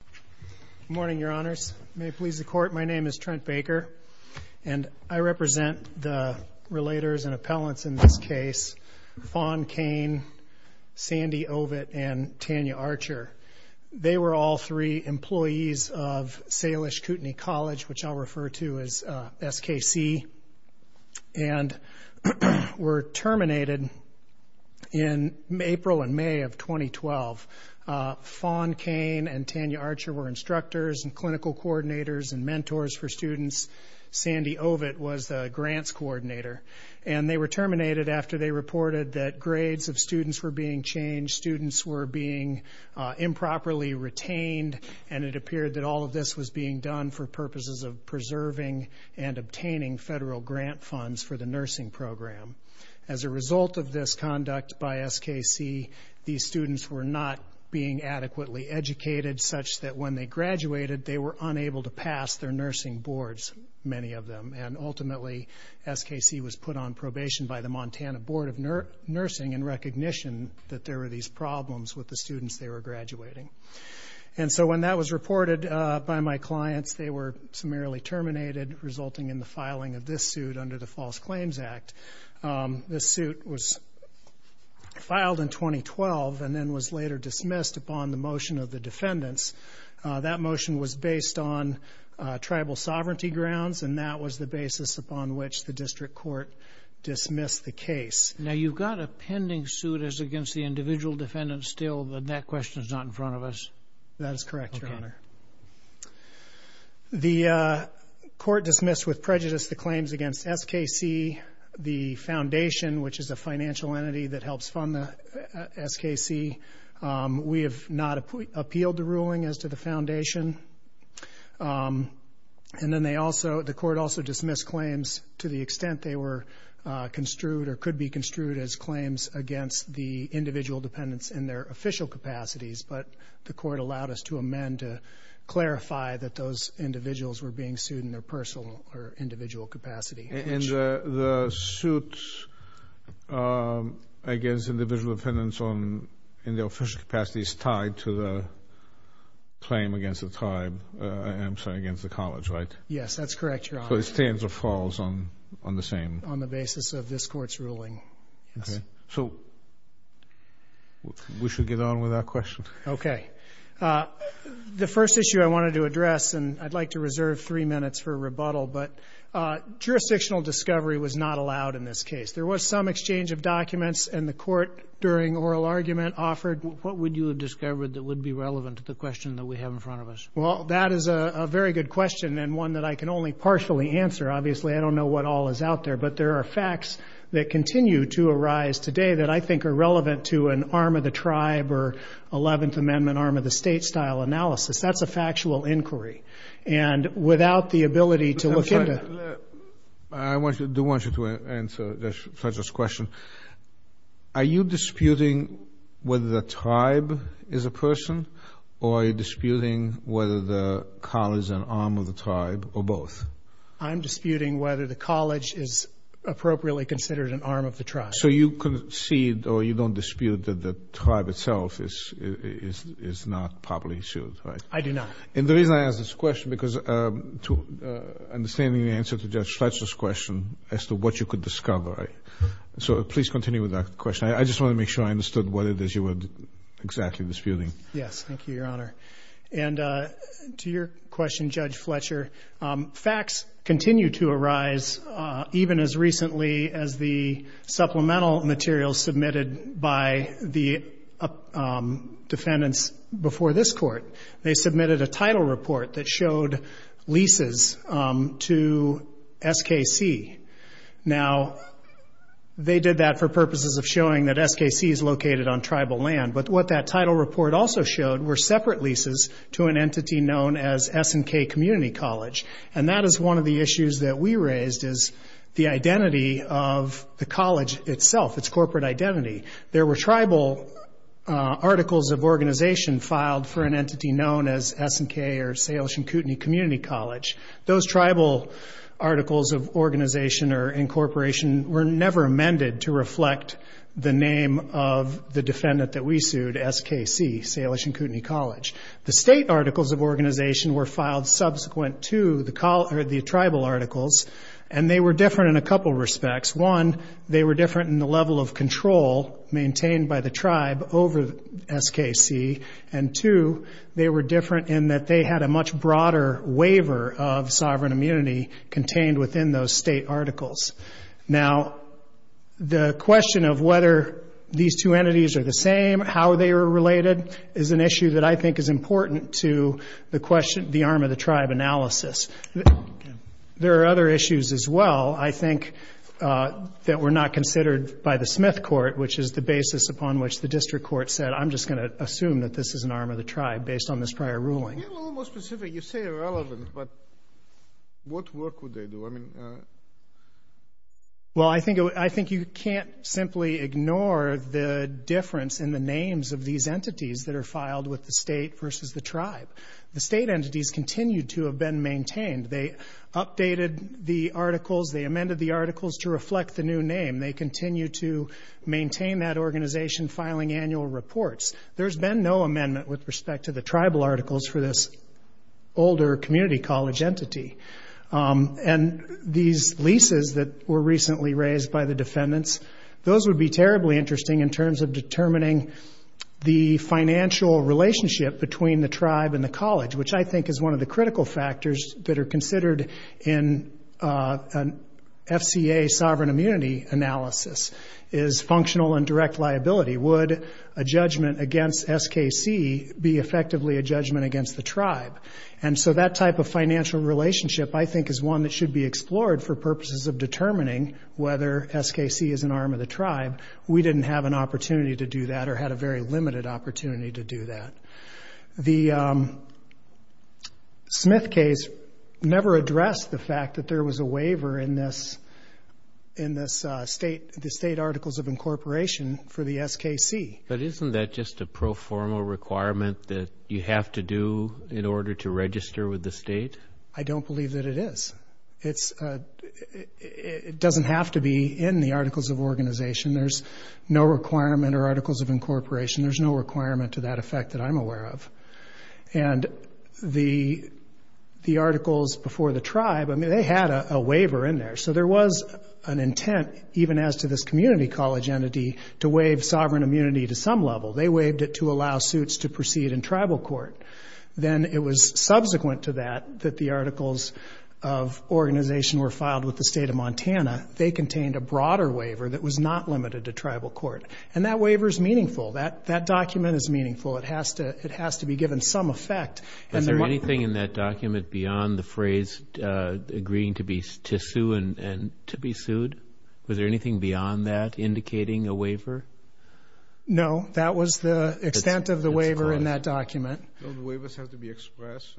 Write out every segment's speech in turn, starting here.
Good morning, Your Honors. May it please the Court, my name is Trent Baker, and I represent the relators and appellants in this case, Fawn Cain, Sandy Ovett, and Tanya Archer. They were all three employees of Salish Kootenai College, which I'll refer to as SKC, and were instructors and clinical coordinators and mentors for students. Sandy Ovett was the grants coordinator, and they were terminated after they reported that grades of students were being changed, students were being improperly retained, and it appeared that all of this was being done for purposes of preserving and obtaining federal grant funds for the nursing program. As a result of this conduct by SKC, these students were not being adequately educated such that when they graduated, they were unable to pass their nursing boards, many of them. And ultimately, SKC was put on probation by the Montana Board of Nursing in recognition that there were these problems with the students they were graduating. And so when that was reported by my clients, they were summarily terminated, resulting in the filing of this suit under the False Claims Act. This suit was filed in 2012, and then was later dismissed upon the motion of the defendants. That motion was based on tribal sovereignty grounds, and that was the basis upon which the district court dismissed the case. Now, you've got a pending suit against the individual defendants still, but that question is not in front of us. That is correct, Your Honor. The court dismissed with prejudice the claims against SKC, the We have not appealed the ruling as to the foundation. And then they also, the court also dismissed claims to the extent they were construed or could be construed as claims against the individual defendants in their official capacities. But the court allowed us to amend to clarify that those individuals were being sued in their personal or individual capacity. And the suit against individual defendants in their official capacity is tied to the claim against the tribe, I'm sorry, against the college, right? Yes, that's correct, Your Honor. So it stands or falls on the same? On the basis of this court's ruling, yes. So we should get on with our question. Okay. The first issue I wanted to address, and I'd like to reserve three minutes for this, is that the jurisdictional discovery was not allowed in this case. There was some exchange of documents, and the court, during oral argument, offered What would you have discovered that would be relevant to the question that we have in front of us? Well, that is a very good question, and one that I can only partially answer. Obviously, I don't know what all is out there, but there are facts that continue to arise today that I think are relevant to an arm of the tribe or Eleventh Amendment, arm of the state style analysis. That's a factual inquiry. And without the ability to look into I do want you to answer Fletcher's question. Are you disputing whether the tribe is a person or are you disputing whether the college is an arm of the tribe or both? I'm disputing whether the college is appropriately considered an arm of the tribe. So you concede or you don't dispute that the tribe itself is not properly sued, right? I do not. And the reason I ask this question, because understanding the answer to Judge Fletcher's question as to what you could discover. So please continue with that question. I just want to make sure I understood what it is you were exactly disputing. Yes. Thank you, Your Honor. And to your question, Judge Fletcher, facts continue to arise even as recently as the supplemental materials submitted by the defendants before this court. They submitted a title report that showed leases to SKC. Now, they did that for purposes of showing that SKC is located on tribal land. But what that title report also showed were separate leases to an entity known as S&K Community College. And that is one of the issues that we raised is the identity of the college itself, its corporate identity. There were tribal articles of organization filed for an entity known as S&K or Salish and Kootenai Community College. Those tribal articles of organization or incorporation were never amended to reflect the name of the defendant that we sued, SKC, Salish and Kootenai College. The state articles of organization were filed subsequent to the tribal articles and they were different in a couple of respects. One, they were different in the level of control maintained by the tribe over SKC. And two, they were different in that they had a much broader waiver of sovereign immunity contained within those state articles. Now, the question of whether these two entities are the same, how they are related, is an issue that I think is important to the question, the arm of the tribe analysis. There are other issues as well, I think, that were not considered by the Smith Court, which is the basis upon which the district court said, I'm just going to assume that this is an arm of the tribe based on this prior ruling. You're a little more specific. You say irrelevant, but what work would they do? I mean... Well, I think you can't simply ignore the difference in the names of these entities that are filed with the state versus the tribe. The state entities continue to have been maintained. They updated the articles. They amended the articles to reflect the new name. They continue to maintain that organization, filing annual reports. There's been no amendment with respect to the tribal articles for this older community college entity. And these leases that were recently raised by the defendants, those would be terribly interesting in terms of determining the financial relationship between the tribe and the college, which I think is one of the critical factors that are considered in an FCA sovereign immunity analysis is functional and direct liability. Would a judgment against SKC be effectively a judgment against the tribe? And so that type of financial relationship, I think, is one that should be explored for purposes of determining whether SKC is an arm of the tribe. We didn't have an opportunity to do that or had a very limited opportunity to do that. The Smith case never addressed the fact that there was a waiver in this state articles of incorporation for the SKC. But isn't that just a proformal requirement that you have to do in order to register with the state? I don't believe that it is. It doesn't have to be in the articles of organization. There's no requirement or articles of incorporation. There's no requirement to that effect that I'm aware of. And the articles before the tribe, I mean, they had a waiver in there. So there was an intent, even as to this community college entity, to waive sovereign immunity to some level. They waived it to allow suits to proceed in tribal court. Then it was subsequent to that that the articles of organization were filed with the state of Montana. They contained a broader waiver that was not limited to tribal court. And that waiver is meaningful. That document is meaningful. It has to be given some effect. Was there anything in that document beyond the phrase agreeing to sue and to be sued? Was there anything beyond that indicating a waiver? No. That was the extent of the waiver in that document. So the waivers have to be expressed.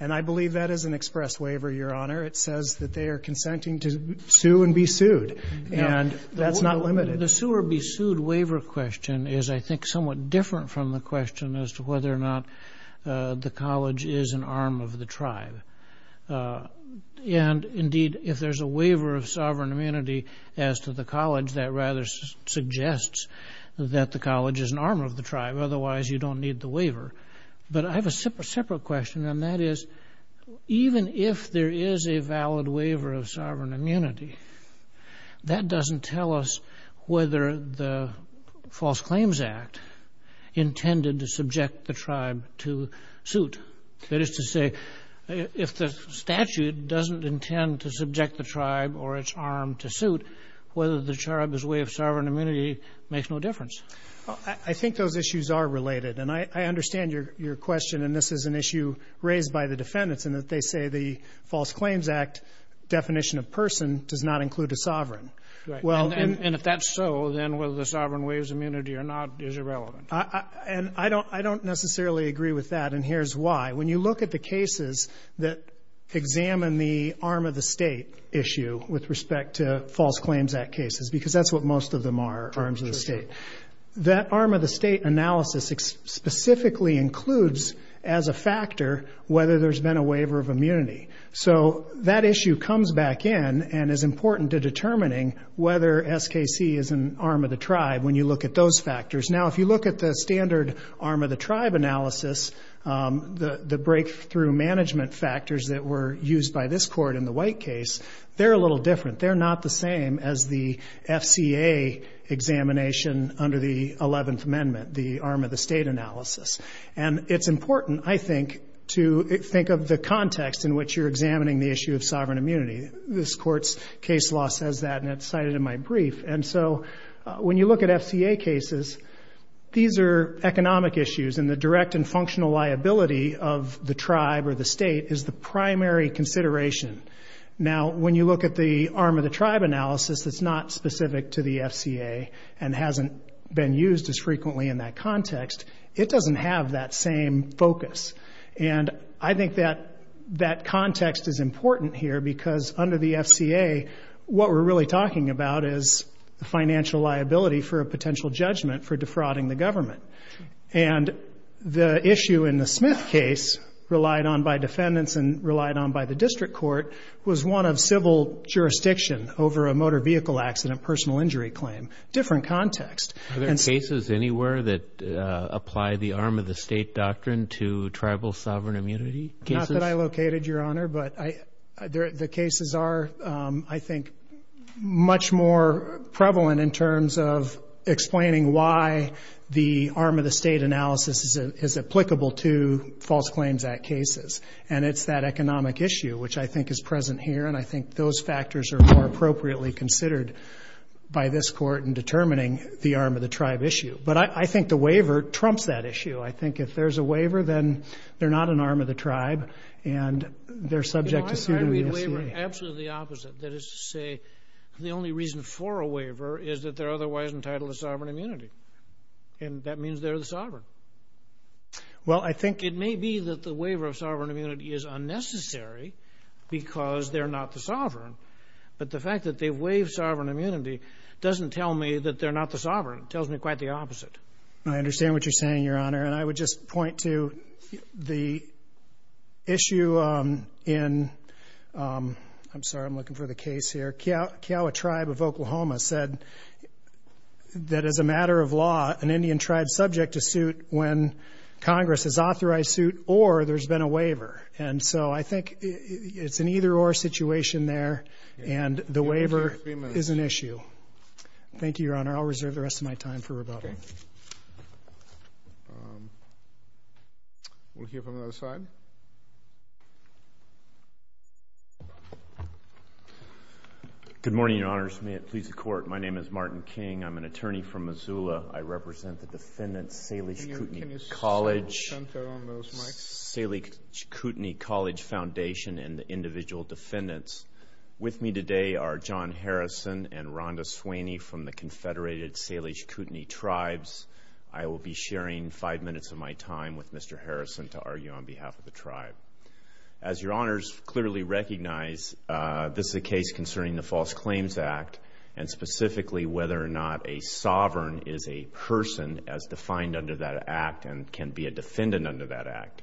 And I believe that is an express waiver, Your Honor. It says that they are consenting to sue and be sued. And that's not limited. The sue or be sued waiver question is, I think, somewhat different from the question as to whether or not the college is an arm of the tribe. And indeed, if there's a waiver of sovereign immunity as to the college, that rather suggests that the college is an arm of the tribe. Otherwise, you don't need the waiver. But I have a separate question. And that is, even if there is a valid waiver of sovereign immunity, that doesn't tell us whether the False Claims Act intended to subject the tribe to suit. That is to say, if the statute doesn't intend to subject the tribe or its arm to suit, whether the tribe is a way of sovereign immunity makes no difference. Well, I think those issues are related. And I understand your question. And this is an issue raised by the defendants in that they say the False Claims Act definition of person does not include a sovereign. And if that's so, then whether the sovereign waives immunity or not is irrelevant. And I don't necessarily agree with that. And here's why. When you look at the cases that examine the arm of the State issue with respect to False Claims Act cases, because that's what most of them are, arms of the State, that arm of the State analysis specifically includes as a factor whether there's been a waiver of immunity. So that issue comes back in and is important to determining whether SKC is an arm of the tribe when you look at those factors. Now, if you look at the standard arm of the tribe analysis, the breakthrough management factors that were used by this court in the White case, they're a little different. They're not the same as the FCA examination under the 11th Amendment, the arm of the State analysis. And it's important, I think, to think of the context in which you're examining the issue of sovereign immunity. This Court's case law says that, and it's cited in my brief. And so when you look at FCA cases, these are economic issues. And the direct and functional liability of the tribe or the State is the primary consideration. Now, when you look at the arm of the tribe analysis that's not specific to the FCA and hasn't been used as frequently in that context, it doesn't have that same focus. And I think that context is important here because under the FCA, what we're really talking about is the financial liability for a potential judgment for defrauding the government. And the issue in the Smith case, relied on by defendants and relied on by the district court, was one of civil jurisdiction over a motor vehicle accident, personal injury claim, different context. Are there cases anywhere that apply the arm of the State doctrine to tribal sovereign immunity cases? Not that I located, Your Honor, but the cases are, I think, much more prevalent in terms of explaining why the arm of the State analysis is applicable to False Claims Act cases. And it's that economic issue, which I think is present here, and I think those factors are more appropriately considered by this court in determining the arm of the tribe issue. But I think the waiver trumps that issue. I think if there's a waiver, then they're not an arm of the tribe, and they're subject to suit of the FCA. But I read waiver absolutely opposite. That is to say, the only reason for a waiver is that they're otherwise entitled to sovereign immunity, and that means they're the sovereign. Well, I think it may be that the waiver of sovereign immunity is unnecessary because they're not the sovereign, but the fact that they've waived sovereign immunity doesn't tell me that they're not the sovereign. It tells me quite the opposite. I understand what you're saying, Your Honor, and I would just point to the issue in, I'm that as a matter of law, an Indian tribe is subject to suit when Congress has authorized suit or there's been a waiver. And so I think it's an either-or situation there, and the waiver is an issue. Thank you, Your Honor. I'll reserve the rest of my time for rebuttal. We'll hear from the other side. Good morning, Your Honors. May it please the Court, my name is Martin King. I'm an attorney from Missoula. I represent the defendants, Salish Kootenai College Foundation and the individual defendants. With me today are John Harrison and Rhonda Sweeney from the Confederated Salish Kootenai Tribes. I will be sharing five minutes of my time with Mr. Harrison to argue on behalf of the tribe. As Your Honors clearly recognize, this is a case concerning the False Claims Act, and specifically whether or not a sovereign is a person as defined under that act and can be a defendant under that act.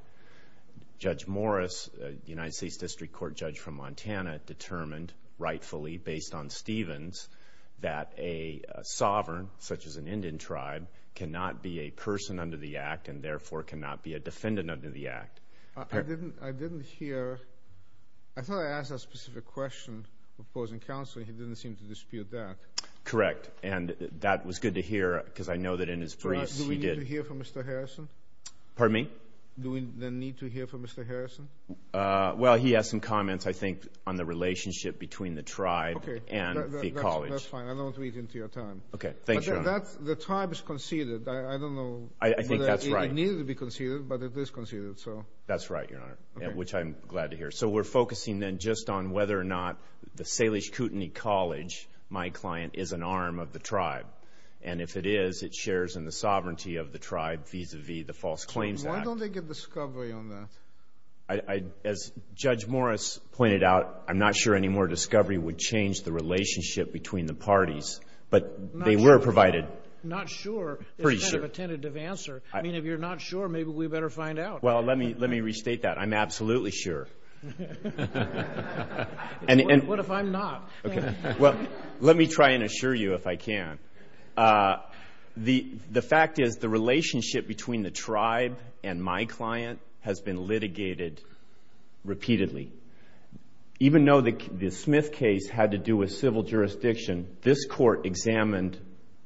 Judge Morris, a United States District Court judge from Montana, determined rightfully based on Stevens that a sovereign, such as a person as defined under the act. I didn't hear, I thought I asked a specific question opposing counsel, and he didn't seem to dispute that. Correct, and that was good to hear because I know that in his briefs he did. Do we need to hear from Mr. Harrison? Pardon me? Do we then need to hear from Mr. Harrison? Well, he has some comments, I think, on the relationship between the tribe and the college. Okay, that's fine. I won't read into your time. Okay, thanks, Your Honor. The tribe is conceded. I don't know. I think that's right. It needed to be conceded, so. That's right, Your Honor, which I'm glad to hear. So, we're focusing then just on whether or not the Salish Kootenai College, my client, is an arm of the tribe, and if it is, it shares in the sovereignty of the tribe vis-a-vis the False Claims Act. Why don't they get discovery on that? As Judge Morris pointed out, I'm not sure any more discovery would change the relationship between the parties, but they were provided. Not sure. Not sure is kind of a tentative answer. I mean, if you're not sure, maybe we better find out. Well, let me restate that. I'm absolutely sure. What if I'm not? Well, let me try and assure you if I can. The fact is the relationship between the tribe and my client has been litigated repeatedly. Even though the Smith case had to do with civil jurisdiction, this court examined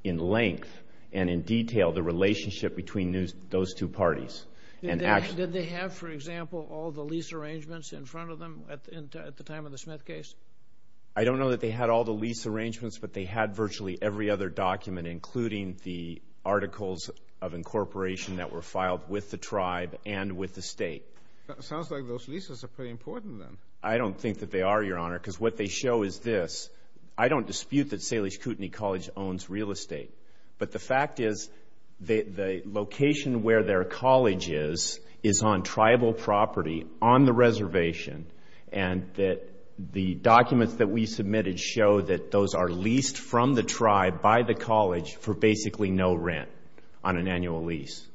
in length and in detail the relationship between those two parties. Did they have, for example, all the lease arrangements in front of them at the time of the Smith case? I don't know that they had all the lease arrangements, but they had virtually every other document, including the articles of incorporation that were filed with the tribe and with the State. Sounds like those leases are pretty important then. I don't think that they are, Your Honor, because what they show is this. I don't dispute that their college is on tribal property on the reservation, and that the documents that we submitted show that those are leased from the tribe by the college for basically no rent on an annual lease.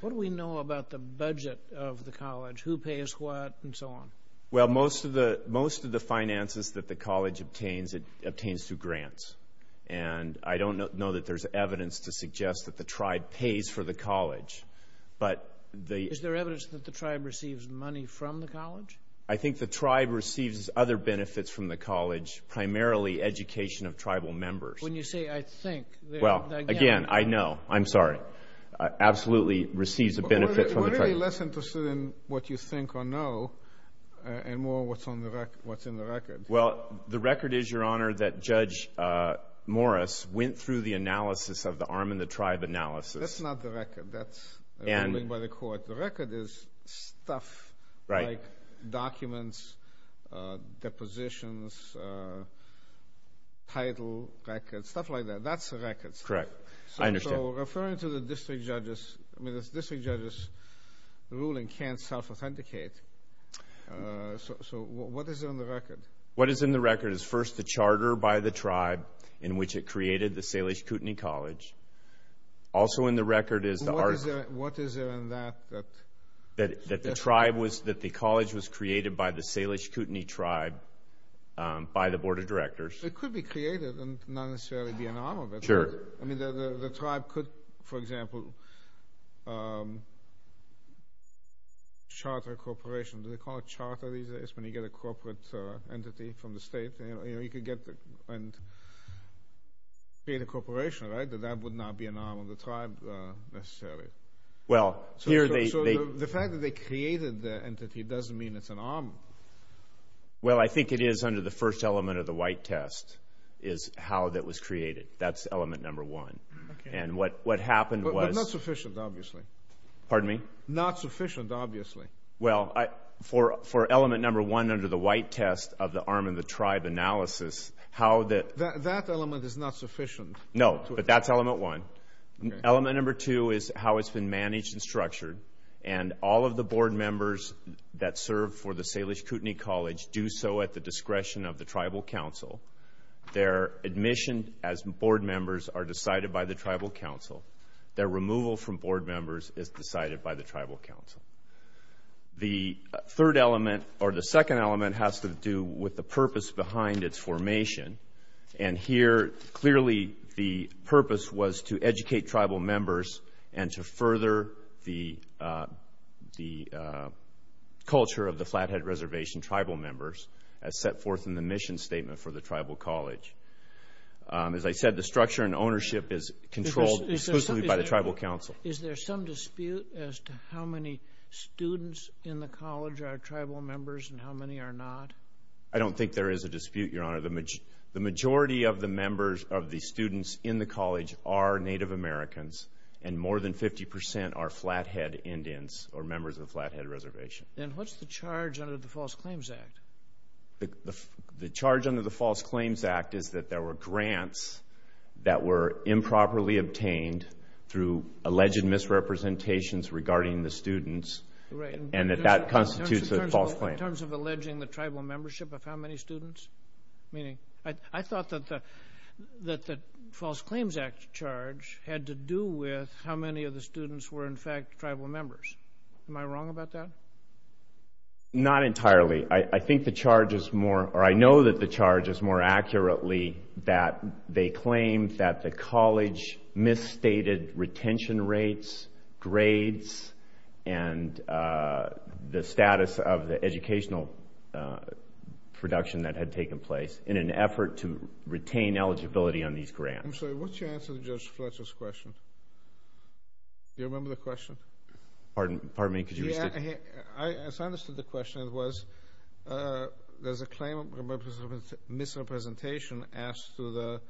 What do we know about the budget of the college? Who pays what and so on? Well, most of the finances that the college obtains, it obtains through grants. And I don't know that there's evidence to suggest that the tribe pays for the college, but the... Is there evidence that the tribe receives money from the college? I think the tribe receives other benefits from the college, primarily education of tribal members. When you say, I think... Well, again, I know. I'm sorry. Absolutely receives a benefit from the tribe. We're really less interested in what you think or know and more what's in the record. Well, the record is, Your Honor, that Judge Morris went through the analysis of the arm and the tribe analysis. That's not the record. That's a ruling by the court. The record is stuff like documents, depositions, title, records, stuff like that. That's the records. Correct. I understand. Referring to the district judge's ruling can't self-authenticate. So what is in the record? What is in the record is first the charter by the tribe in which it created the Salish Kootenai College. Also in the record is the... What is there in that? That the tribe was... That the college was created by the Salish Kootenai tribe by the board of directors. It could be created and not necessarily be an arm of it. Sure. I mean, the tribe could, for example, charter a corporation. Do they call it charter these days when you get a corporate entity from the state? You could get and create a corporation, right? That that would not be an arm of the tribe necessarily. Well, here they... So the fact that they created the entity doesn't mean it's an arm. Well, I think it is under the first element of the white test is how that was created. That's element number one. And what happened was... But not sufficient, obviously. Pardon me? Not sufficient, obviously. Well, for element number one under the white test of the arm of the tribe analysis, how that... That element is not sufficient. No, but that's element one. Element number two is how it's been managed and structured. And all of the board members that serve for the Salish Kootenai College do so at the discretion of the tribal council. Their admission as board members are decided by the tribal council. Their removal from board members is decided by the tribal council. The third element or the second element has to do with the purpose behind its formation. And here clearly the purpose was to educate tribal members and to further the culture of the Flathead Reservation tribal members as set forth in the mission statement for the tribal college. As I said, the structure and ownership is controlled exclusively by the tribal council. Is there some dispute as to how many students in the college are tribal members and how many are not? I don't think there is a dispute, Your Honor. The majority of the members of the students in the college are Native Americans and more than 50% are Flathead Indians or members of the Flathead Reservation. And what's the charge under the False Claims Act? The charge under the False Claims Act is that there were grants that were improperly obtained through alleged misrepresentations regarding the students and that that constitutes a false claim. In terms of alleging the tribal membership of how many students? I thought that the False Claims Act charge had to do with how many of the students were in fact tribal members. Am I wrong about that? Not entirely. I think the charge is more accurately that they claimed that the college misstated retention rates, grades, and the status of the educational production that had taken place in an effort to retain eligibility on these grants. I'm sorry, what's your answer to Judge Fletcher's question? Do you remember the misrepresentation as to the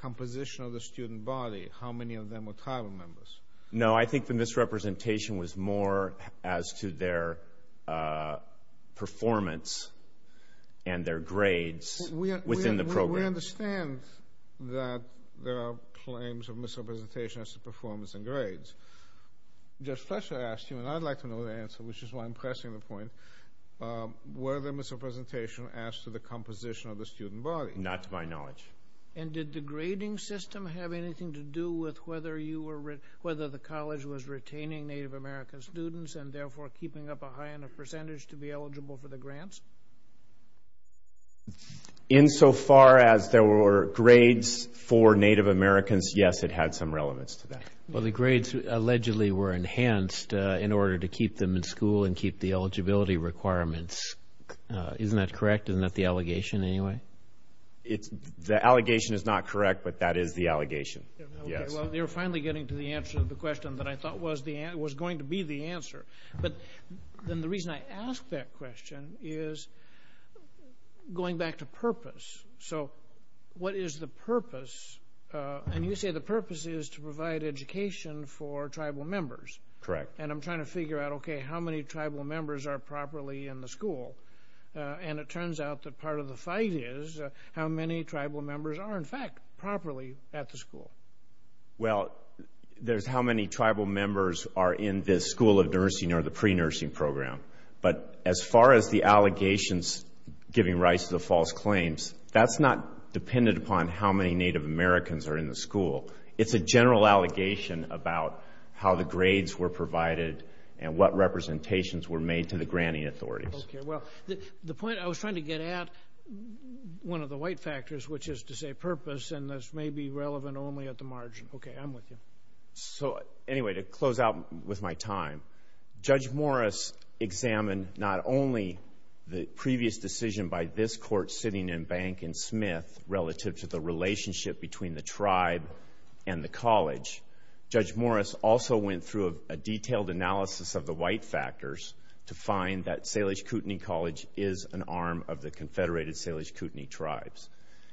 composition of the student body? How many of them were tribal members? No, I think the misrepresentation was more as to their performance and their grades within the program. We understand that there are claims of misrepresentation as to performance and grades. Judge Fletcher asked you, and I'd like to know the answer, which is why I'm pressing the point, were the misrepresentation as to the composition of the student body? Not to my knowledge. And did the grading system have anything to do with whether the college was retaining Native American students and therefore keeping up a high enough percentage to be eligible for the grants? In so far as there were grades for Native Americans, yes, it had some relevance to that. Well, the grades allegedly were enhanced in order to keep them in school and keep the eligibility requirements. Isn't that correct? Isn't that the allegation anyway? The allegation is not correct, but that is the allegation. Yes. Well, you're finally getting to the answer to the question that I thought was going to be the answer. But then the reason I ask that question is going back to Correct. And I'm trying to figure out, okay, how many tribal members are properly in the school? And it turns out that part of the fight is how many tribal members are in fact properly at the school. Well, there's how many tribal members are in this school of nursing or the pre-nursing program. But as far as the allegations giving rise to the false claims, that's not dependent upon how many Native Americans are in the school. It's a general allegation about how the grades were provided and what representations were made to the granting authorities. Okay. Well, the point I was trying to get at, one of the white factors, which is to say purpose, and this may be relevant only at the margin. Okay. I'm with you. So, anyway, to close out with my time, Judge Morris examined not only the previous decision by this court sitting in Bank and Smith relative to the relationship between the tribe and the college. Judge Morris also went through a detailed analysis of the white factors to find that Salish Kootenai College is an arm of the Confederated Salish Kootenai Tribes.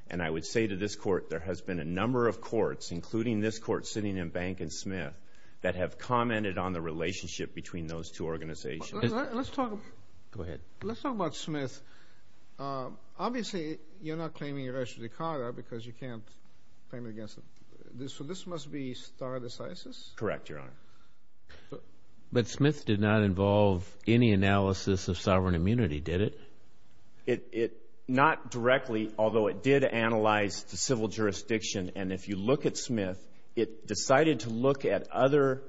And I would say to this court, there has been a number of courts, including this court sitting in Bank and Smith, that have commented on the relationship between those two organizations. Let's talk about Smith. Obviously, you're not claiming Ereshkodikara because you can't claim against it. So, this must be Stare Decisis? Correct, Your Honor. But Smith did not involve any analysis of sovereign immunity, did it? Not directly, although it did analyze the civil jurisdiction. And if you look at Smith, it decided to look at other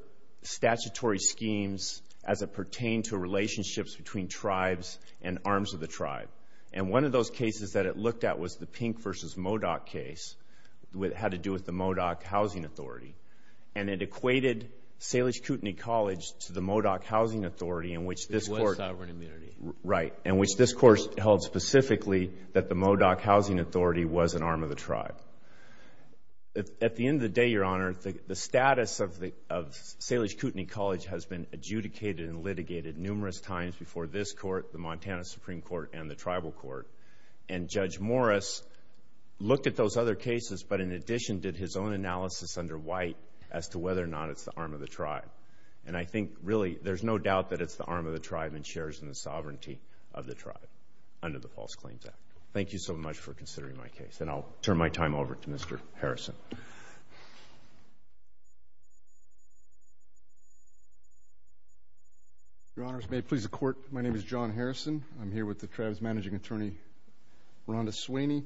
statutory schemes as it pertained to relationships between tribes and arms of the tribe. And one of those cases that it looked at was the Pink v. Modoc case. It had to do with the Modoc Housing Authority. And it equated Salish Kootenai College to the Modoc Housing Authority in which this court held specifically that the Modoc Housing Authority was an arm of the tribe. At the end of the day, Your Honor, the status of Salish Kootenai College has been adjudicated and litigated numerous times before this court, the Montana Supreme Court, and the tribal court. And Judge Morris looked at those other cases, but in addition did his own analysis under White as to whether or not it's the arm of the tribe. And I think, really, there's no doubt that it's the arm of the tribe and shares in the sovereignty of the tribe under the False Claims Act. Thank you so much for considering my case. And I'll turn my time over to Mr. Harrison. Your Honors, may it please the Court, my name is John Harrison. I'm here with the tribe's managing attorney, Rhonda Sweeney.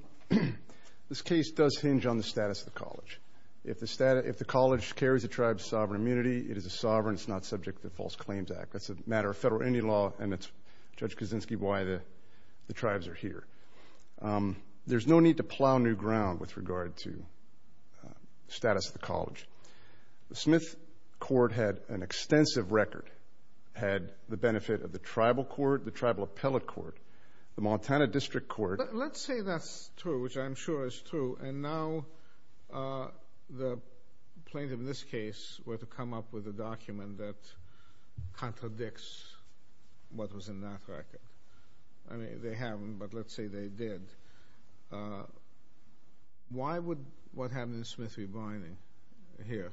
This case does hinge on the status of the college. If the college carries a tribe's sovereign immunity, it is a sovereign. It's not subject to the False Claims Act. That's a matter of federal Indian law, and it's, Judge Kaczynski, why the tribes are here. There's no need to plow new ground with regard to status of the college. The Smith Court had an extensive record, had the benefit of the tribal court, the tribal appellate court, the Montana District Court. Let's say that's true, which I'm sure is true, and now the plaintiff in this case were to come up with a document that I mean, they haven't, but let's say they did. Why would what happened in Smith be binding here?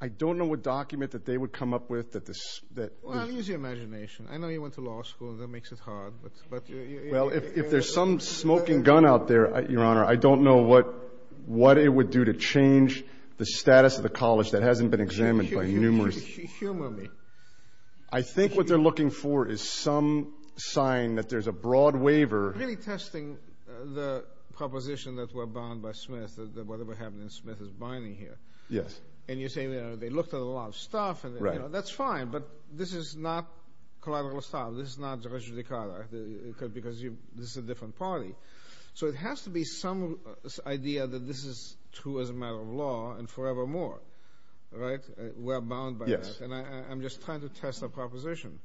I don't know what document that they would come up with that this... Well, use your imagination. I know you went to law school, that makes it hard, but... Well, if there's some smoking gun out there, Your Honor, I don't know what it would do to change the status of the college that hasn't been examined by numerous... Sign that there's a broad waiver... Really testing the proposition that we're bound by Smith, that whatever happened in Smith is binding here. Yes. And you're saying, they looked at a lot of stuff, and that's fine, but this is not collateral assault. This is not because this is a different party. So it has to be some idea that this is true as a matter of law, and forevermore, right? We're bound by that, and I'm just trying to test the proposition.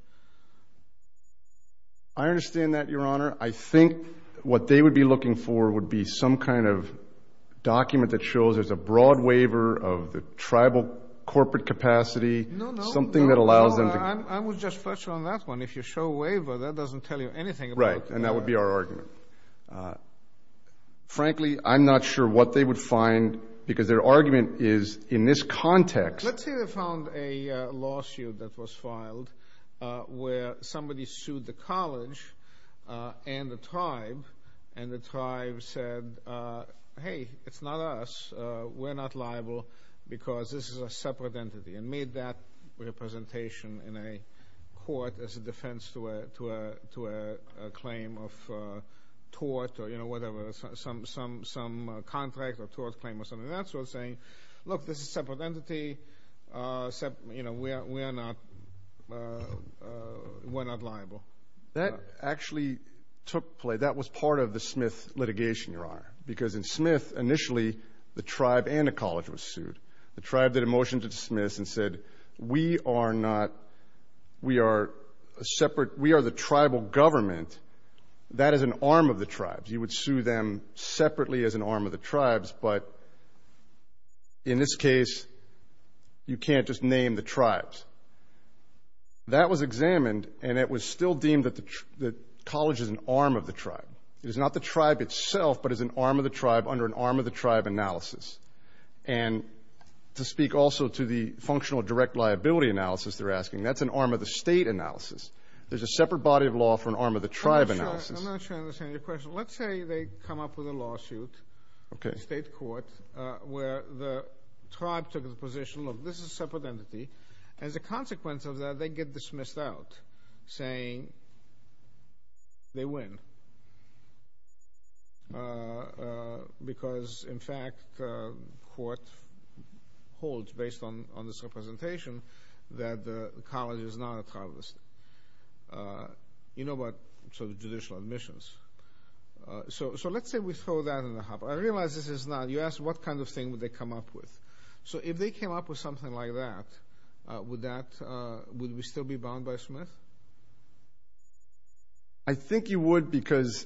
I understand that, Your Honor. I think what they would be looking for would be some kind of document that shows there's a broad waiver of the tribal corporate capacity, something that allows them to... No, no. I was just fletching on that one. If you show a waiver, that doesn't tell you anything about... Right, and that would be our argument. Frankly, I'm not sure what they would find, because their argument is, in this context... Let's say they found a lawsuit that was filed where somebody sued the college and the tribe, and the tribe said, hey, it's not us. We're not liable because this is a separate entity, and made that representation in a court as a defense to a claim of tort or whatever, some contract or tort claim or something. That's what they're looking for. We're not liable. That actually took place. That was part of the Smith litigation, Your Honor, because in Smith, initially, the tribe and the college were sued. The tribe did a motion to dismiss and said, we are the tribal government. That is an arm of the tribes. You would sue them separately as an arm of the tribes, but in this case, you can't just name the tribes. That was examined, and it was still deemed that the college is an arm of the tribe. It is not the tribe itself, but is an arm of the tribe under an arm-of-the-tribe analysis. And to speak also to the functional direct liability analysis they're asking, that's an arm-of-the-state analysis. There's a separate body of law for an arm-of-the-tribe analysis. I'm not sure I understand your question. Let's say they come up with a lawsuit in state court where the tribe took the position, look, this is a separate entity. As a consequence of that, they get dismissed out, saying they win. Because, in fact, court holds, based on this representation, that the college is not a tribal state. You know about sort of judicial admissions. So let's say we throw that in the thing. What kind of thing would they come up with? So if they came up with something like that, would we still be bound by Smith? I think you would, because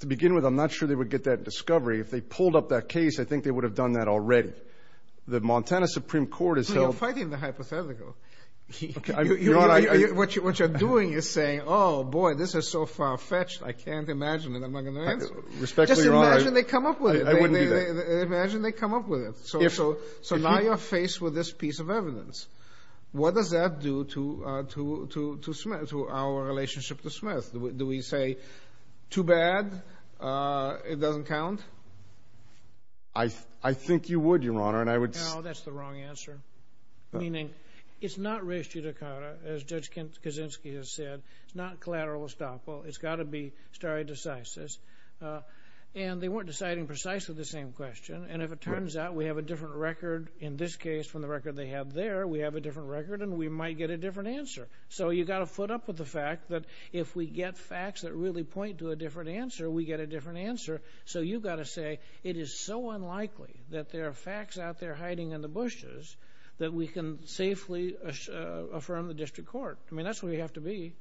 to begin with, I'm not sure they would get that discovery. If they pulled up that case, I think they would have done that already. The Montana Supreme Court has held... You're fighting the hypothetical. What you're doing is saying, oh boy, this is so far-fetched, I can't imagine it, I'm not going to answer it. Just imagine they come up with it. I wouldn't do that. Imagine they come up with it. So now you're faced with this piece of evidence. What does that do to our relationship to Smith? Do we say, too bad, it doesn't count? I think you would, Your Honor, and I would... No, that's the wrong answer. Meaning, it's not res judicata, as Judge Kaczynski has said. It's not collateral estoppel. It's got to be stare decisis. And they weren't deciding precisely the same question, and if it turns out we have a different record in this case from the record they have there, we have a different record and we might get a different answer. So you've got to foot up with the fact that if we get facts that really point to a different answer, we get a different answer. So you've got to say, it is so unlikely that there are facts out there hiding in the bushes that we can safely affirm the district court. I mean, that's what we have to be.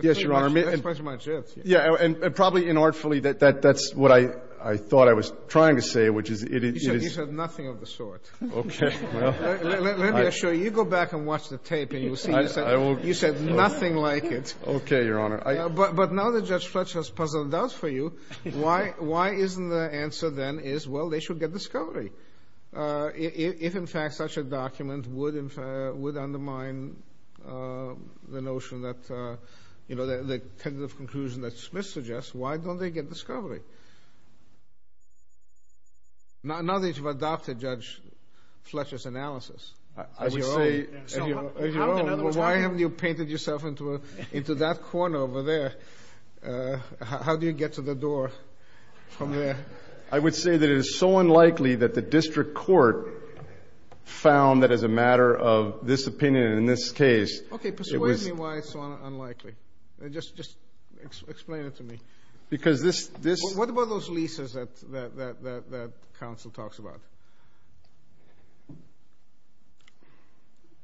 Yes, Your Honor. That's pretty much it. Yeah, and probably inartfully, that's what I thought I was trying to say, which is it is... You said nothing of the sort. Okay, well... Let me assure you, you go back and watch the tape and you'll see, you said nothing like it. Okay, Your Honor. But now that Judge Fletcher has puzzled out for you, why isn't the answer then is, they should get discovery? If in fact, such a document would undermine the notion that, the tentative conclusion that Smith suggests, why don't they get discovery? Now that you've adopted Judge Fletcher's analysis, I would say, why haven't you painted yourself into that corner over there? How do you get to the door from there? I would say that it is so unlikely that the district court found that as a matter of this opinion, in this case... Okay, persuade me why it's so unlikely. Just explain it to me. What about those leases that counsel talks about?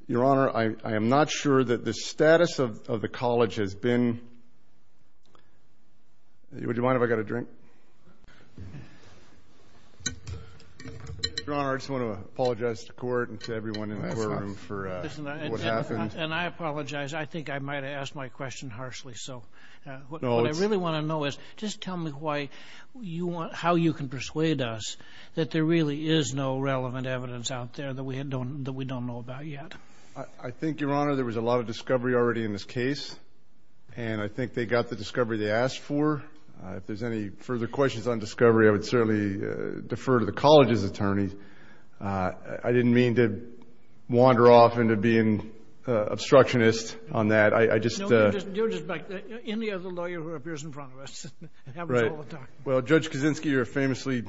Your Honor, I am not sure that the status of the college has been... Would you mind if I got a drink? Your Honor, I just want to apologize to the court and to everyone in the courtroom for what happened. And I apologize. I think I might have asked my question harshly. So what I really want to know is, just tell me how you can persuade us that there really is no relevant evidence out there that we don't know about yet. I think, Your Honor, there was a lot of discovery already in this case. And I think they got the discovery they asked for. If there's any further questions on discovery, I would certainly defer to the college's attorney. I didn't mean to wander off into being obstructionist on that. I just... No, you're just back there. Any other lawyer who appears in front of us happens all the time. Right. Well, Judge Kaczynski, you're a famously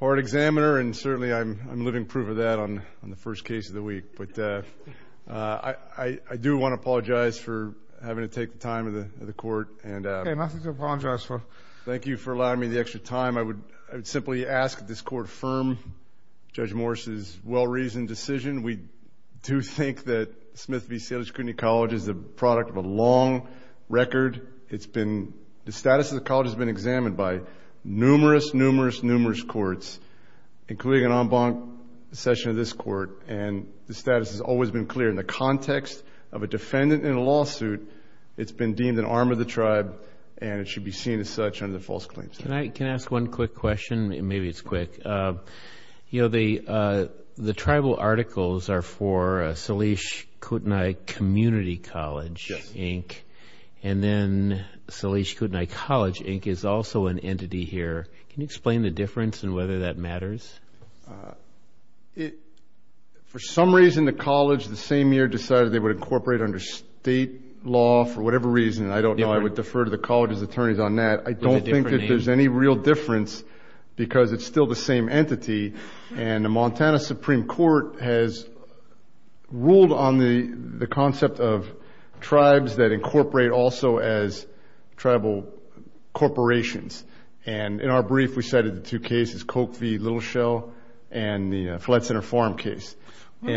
hard examiner. And certainly, I'm living proof of that on the first case of the week. But I do want to apologize for having to take the time of the court. Okay, nothing to apologize for. Thank you for allowing me the extra time. I would simply ask that this court firm Judge Morris' well-reasoned decision. We do think that Smith v. Salish Community College is the product of a long record. It's been... The status of the college has been examined by numerous, numerous, numerous courts, including an en banc session of this court. And the status has always been clear. In the context of a defendant in a lawsuit, it's been deemed an attempt to harm the tribe. And it should be seen as such under the false claims. Can I ask one quick question? Maybe it's quick. The tribal articles are for Salish Kootenai Community College, Inc. And then Salish Kootenai College, Inc. is also an entity here. Can you explain the difference and whether that matters? For some reason, the college the same year decided they would incorporate under state law for whatever reason. I don't know. I would defer to the college's attorneys on that. I don't think that there's any real difference because it's still the same entity. And the Montana Supreme Court has ruled on the concept of tribes that incorporate also as tribal corporations. And in our brief, we cited the two cases, Coke v. Little Shell and the Flat Center Farm case. Let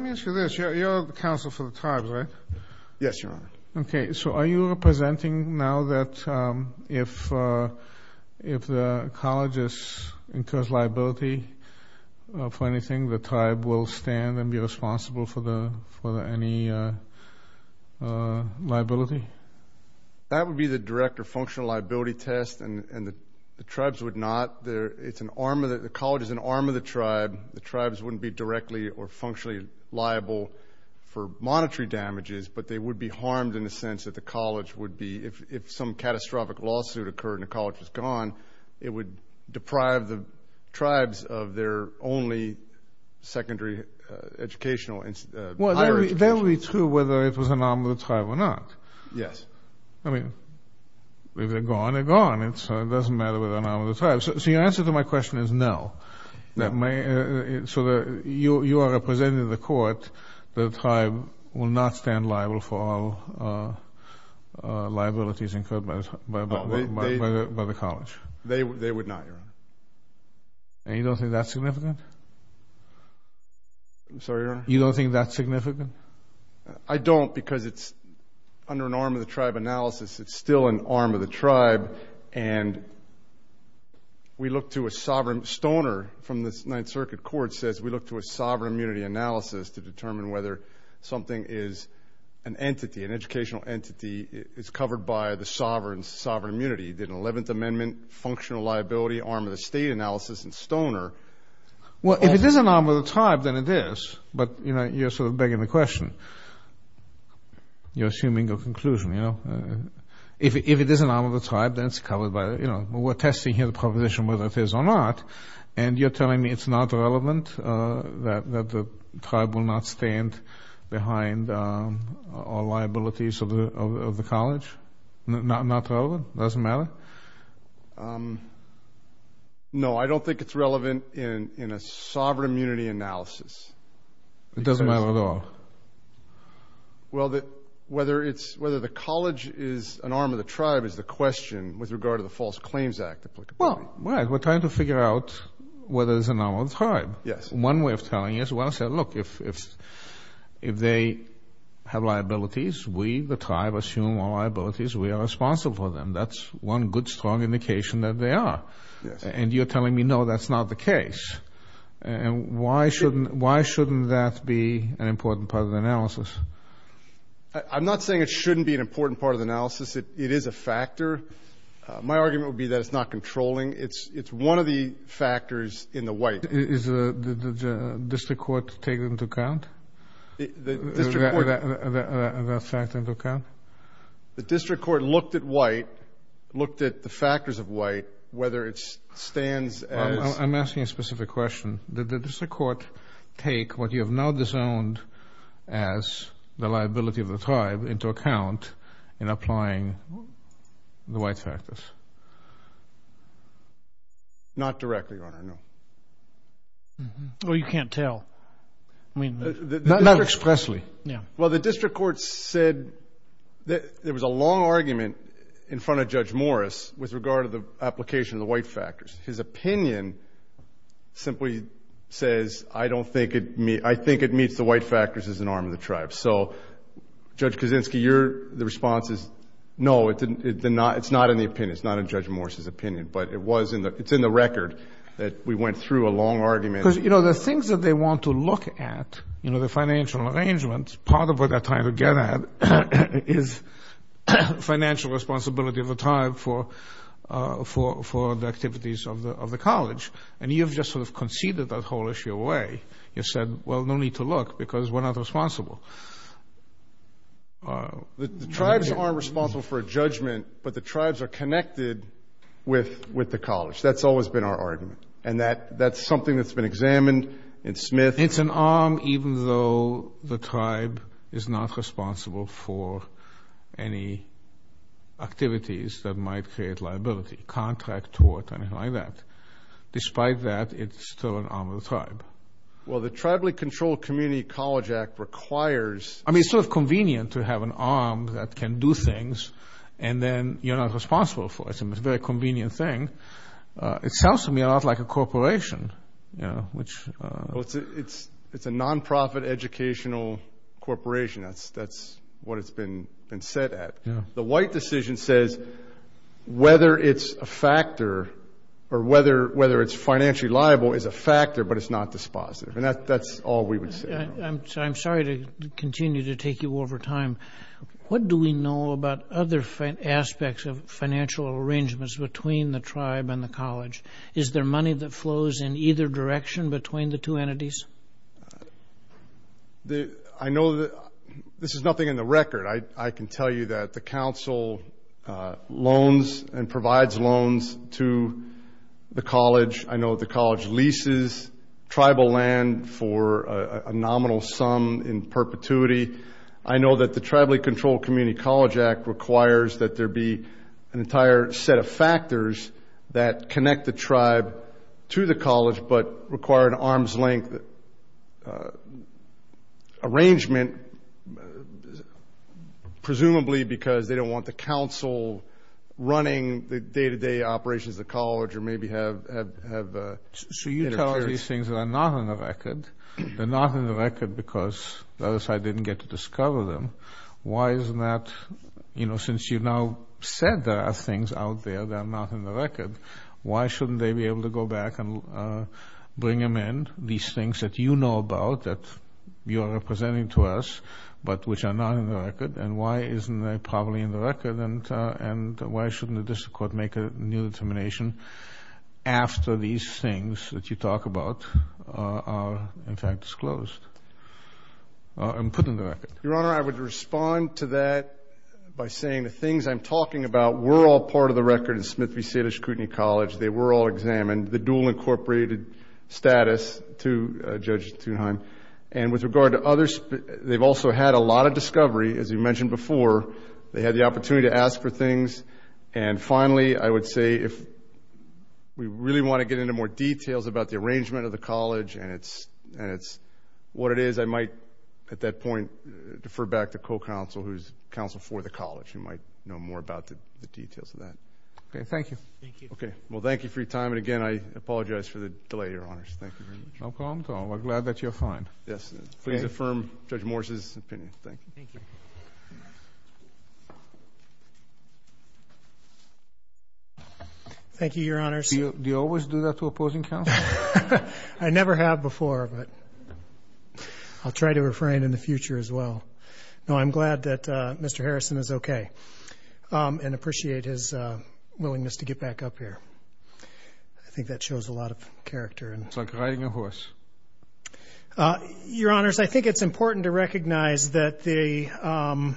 me ask you this. You're the counsel for the tribes, right? Yes, Your Honor. Okay. So are you presenting now that if the college incurs liability for anything, the tribe will stand and be responsible for any liability? That would be the direct or functional liability test. And the tribes would not. The college is an arm of the tribe. The tribes wouldn't be directly or functionally liable for monetary damages, but they would be harmed in the sense that the college would be, if some catastrophic lawsuit occurred and the college was gone, it would deprive the tribes of their only secondary educational and higher education. Well, that would be true whether it was an arm of the tribe or not. Yes. I mean, if they're gone, they're gone. It doesn't matter whether they're an arm of the tribe. So your answer to my question is no. So you are representing the court that the tribe will not stand liable for all liabilities incurred by the college? They would not, Your Honor. And you don't think that's significant? I'm sorry, Your Honor? You don't think that's significant? I don't because it's under an arm of the tribe analysis. It's still an arm of the tribe. And Stoner from the Ninth Circuit Court says we look to a sovereign immunity analysis to determine whether something is an entity, an educational entity, is covered by the sovereign immunity. Did an 11th Amendment functional liability arm of the state analysis in Stoner? Well, if it is an arm of the tribe, then it is. But you're sort of begging the question. You're assuming a conclusion. If it is an arm of the tribe, then it's covered by the we're testing here the proposition whether it is or not. And you're telling me it's not relevant that the tribe will not stand behind all liabilities of the college? Not relevant? Doesn't matter? No, I don't think it's relevant in a sovereign immunity analysis. It doesn't matter at all? Well, whether the college is an arm of the tribe is the question with regard to the false claims act. Well, we're trying to figure out whether it's an arm of the tribe. One way of telling you is, well, look, if they have liabilities, we, the tribe, assume all liabilities, we are responsible for them. That's one good, strong indication that they are. And you're telling me, no, that's not the case. And why shouldn't that be an important part of the analysis? I'm not saying it shouldn't be an important part of the analysis. It is a factor. My argument would be that it's not controlling. It's one of the factors in the white. Did the district court take that into account? The district court looked at white, looked at the factors of white, whether it stands as... I'm asking a specific question. Did the district court take what you have now disowned as the liability of the tribe into account in applying the white factors? Not directly, Your Honor, no. Well, you can't tell. Not expressly. The district court said that there was a long argument in front of Judge Morris with regard to the application of the white factors. His opinion simply says, I don't think it meets... I think it is an arm of the tribe. So, Judge Kaczynski, the response is, no, it's not in the opinion. It's not in Judge Morris's opinion, but it's in the record that we went through a long argument. Because the things that they want to look at, the financial arrangements, part of what they're trying to get at is financial responsibility of the tribe for the activities of the college. And you've just sort of conceded that whole issue away. You said, well, no need to look, because we're not responsible. The tribes aren't responsible for a judgment, but the tribes are connected with the college. That's always been our argument. And that's something that's been examined in Smith. It's an arm, even though the tribe is not responsible for any activities that might create liability, contract, tort, anything like that. Despite that, it's still an arm of the tribe. Well, the Tribally Controlled Community College Act requires... I mean, it's sort of convenient to have an arm that can do things, and then you're not responsible for it. It's a very convenient thing. It sounds to me a lot like a corporation, which... It's a nonprofit educational corporation. That's what it's been set at. The White decision says, whether it's a factor or whether it's financially liable is a factor, but it's not dispositive. And that's all we would say. I'm sorry to continue to take you over time. What do we know about other aspects of financial arrangements between the tribe and the college? Is there money that flows in either direction between the two entities? I know that this is nothing in the record. I can tell you that the council loans and provides loans to the college. I know the college leases tribal land for a nominal sum in perpetuity. I know that the Tribally Controlled Community College Act requires that there be an entire set of factors that connect the tribe to the college, but require an arm's length arrangement, presumably because they don't want the council running the day-to-day operations of the college or maybe have... So you tell us these things that are not on the record. They're not on the record because the other side didn't get to discover them. Why isn't that... Since you've now said there are things out there that are not in the record, why shouldn't they be able to go back and bring them in, these things that you know about that you are representing to us, but which are not in the record? And why isn't that probably in the record? And why shouldn't the district court make a new determination after these things that you talk about are, in fact, disclosed and put in the record? Your Honor, I would respond to that by saying the things I'm talking about were all part of the record in Smith v. Salish Kootenai College. They were all examined, the dual incorporated status to Judge Thunheim. And with regard to others, they've also had a lot of discovery, as you mentioned before. They had the opportunity to ask for things. And finally, I would say if we really want to get into more details about the arrangement of the college and it's what it is, I might at that point defer back to co-counsel, who's counsel for the college, who might know more about the details of that. Okay. Thank you. Okay. Well, thank you for your time. And again, I apologize for the delay, Your Honors. Thank you very much. No problem at all. We're glad that you're fine. Yes. Please affirm Judge Morse's opinion. Thank you. Thank you. Thank you, Your Honors. Do you always do that to opposing counsel? I never have before, but I'll try to refrain in the future as well. No, I'm glad that Mr. Harrison is okay and appreciate his willingness to get back up here. I think that shows a lot of character. Your Honors, I think it's important to recognize that Mr.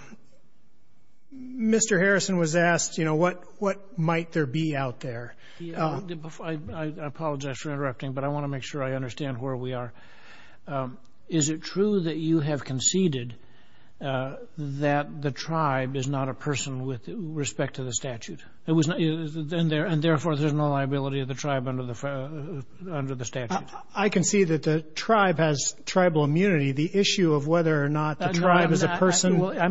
Harrison was asked, what might there be out there? I apologize for interrupting, but I want to make sure I understand where we are. Is it true that you have conceded that the tribe is not a person with respect to the statute? And therefore, there's no liability of the tribe under the statute? I can see that the tribe has tribal immunity. The issue of whether or not the tribe is a person... I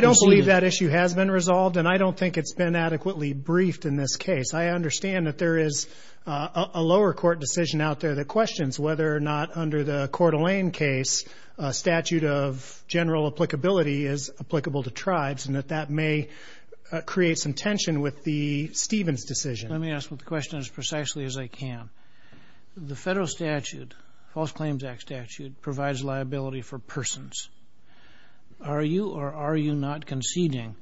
don't believe that issue has been resolved, and I don't think it's been adequately briefed in this case. I understand that there is a lower court decision out there that questions whether or not under the Coeur d'Alene case, a statute of general applicability is applicable to tribes, and that that may create some tension with the Stevens decision. Let me ask the question as precisely as I can. The federal statute, False Claims Act statute, provides liability for persons. Are you or are you not conceding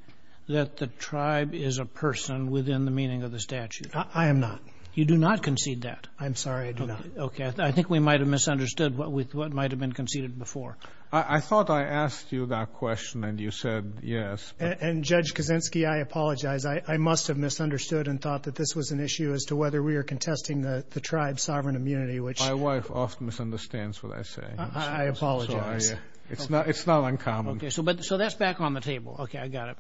that the tribe is a person within the meaning of the statute? I am not. You do not concede that? I'm sorry, I do not. Okay. I think we might have misunderstood what might have been conceded before. I thought I asked you that question, and you said yes. And Judge Kaczynski, I apologize. I must have misunderstood and thought that this was an issue as to whether we are contesting the tribe's sovereign immunity, which... I apologize. It's not uncommon. Okay. So that's back on the table. Okay. I got it.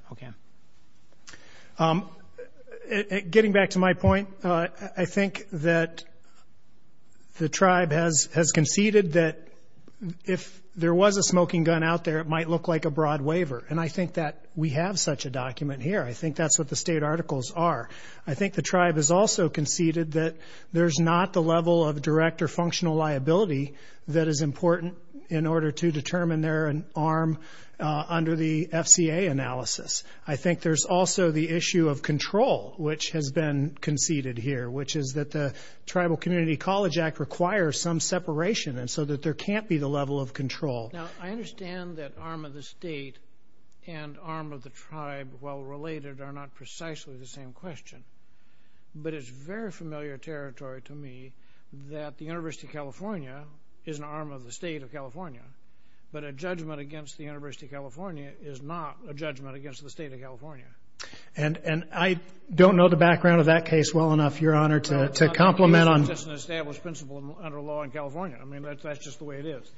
Okay. Getting back to my point, I think that the tribe has conceded that if there was a smoking gun out there, it might look like a broad waiver. And I think that we have such a document here. I think that's what the state articles are. I think the tribe has also conceded that there's not the in order to determine their arm under the FCA analysis. I think there's also the issue of control, which has been conceded here, which is that the Tribal Community College Act requires some separation, and so that there can't be the level of control. Now, I understand that arm of the state and arm of the tribe, while related, are not precisely the same question. But it's very familiar territory to me that the University of California is an arm of the state of California, but a judgment against the University of California is not a judgment against the state of California. And I don't know the background of that case well enough, Your Honor, to compliment on... It's just an established principle under law in California. I mean, that's just the way it is.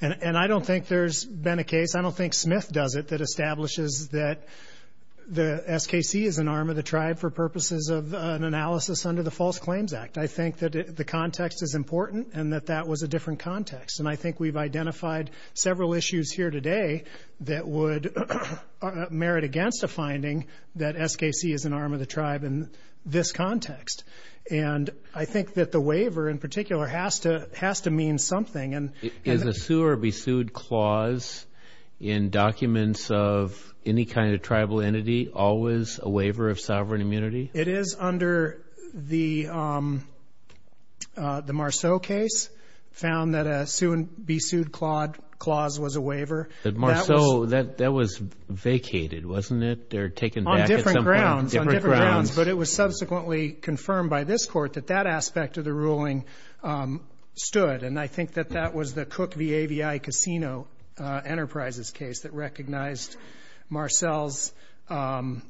And I don't think there's been a case, I don't think Smith does it, that establishes that the SKC is an arm of the tribe for purposes of an analysis under the False Claims Act. I think that the context is important, and that that was a different context. And I think we've identified several issues here today that would merit against a finding that SKC is an arm of the tribe in this context. And I think that the waiver, in particular, has to mean something. And... Is a sue or be sued clause in documents of any kind of tribal entity always a waiver of sovereign immunity? It is under the Marceau case, found that a sue and be sued clause was a waiver. But Marceau, that was vacated, wasn't it? They're taking back at some point... On different grounds. On different grounds. But it was subsequently confirmed by this court that that aspect of the ruling stood. And I think that that was the Cook v. AVI Casino Enterprises case that recognized Marceau's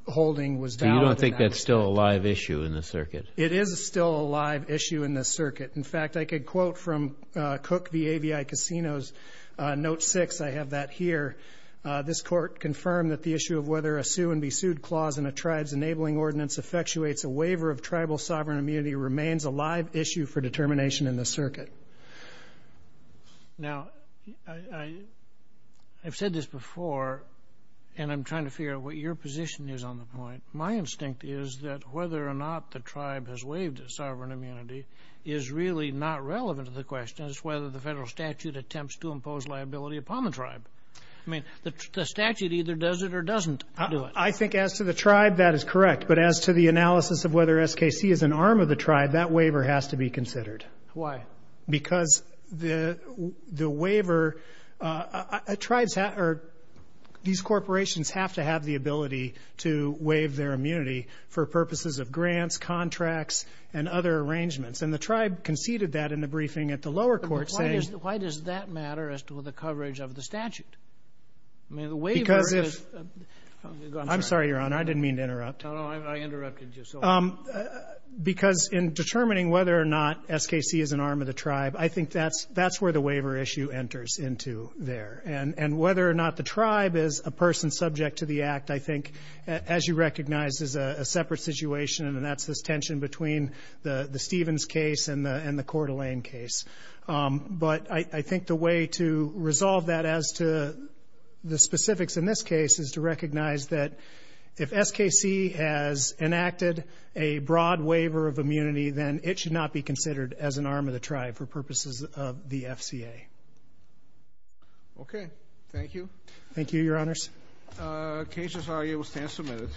holding was valid. You don't think that's still a live issue in the circuit? It is still a live issue in the circuit. In fact, I could quote from Cook v. AVI Casino's Note 6. I have that here. This court confirmed that the issue of whether a sue and be sued clause in a tribe's enabling ordinance effectuates a waiver of tribal sovereign immunity remains a live issue for determination in the circuit. Now, I've said this before, and I'm trying to figure out what your position is on the point. My instinct is that whether or not the tribe has waived its sovereign immunity is really not relevant to the question. It's whether the federal statute attempts to impose liability upon the tribe. I mean, the statute either does it or doesn't do it. I think as to the tribe, that is correct. But as to the analysis of whether SKC is an arm of the tribe, that waiver has to be considered. Why? Because these corporations have to have the ability to waive their immunity for purposes of grants, contracts, and other arrangements. And the tribe conceded that in the briefing at the lower court, saying why does that matter as to the coverage of the statute? I'm sorry, Your Honor. I didn't mean to interrupt. No, no. I interrupted you. Because in determining whether or not SKC is an arm of the tribe, I think that's where the waiver issue enters into there. And whether or not the tribe is a person subject to the act, I think, as you recognize, is a separate situation. And that's this tension between the Stevens case and the Coeur d'Alene case. But I think the way to resolve that as to the specifics in this case is to recognize that if SKC has enacted a broad waiver of immunity, then it should not be considered as an arm of the tribe for purposes of the FCA. Okay. Thank you. Thank you, Your Honors. Cases are able to stand submitted.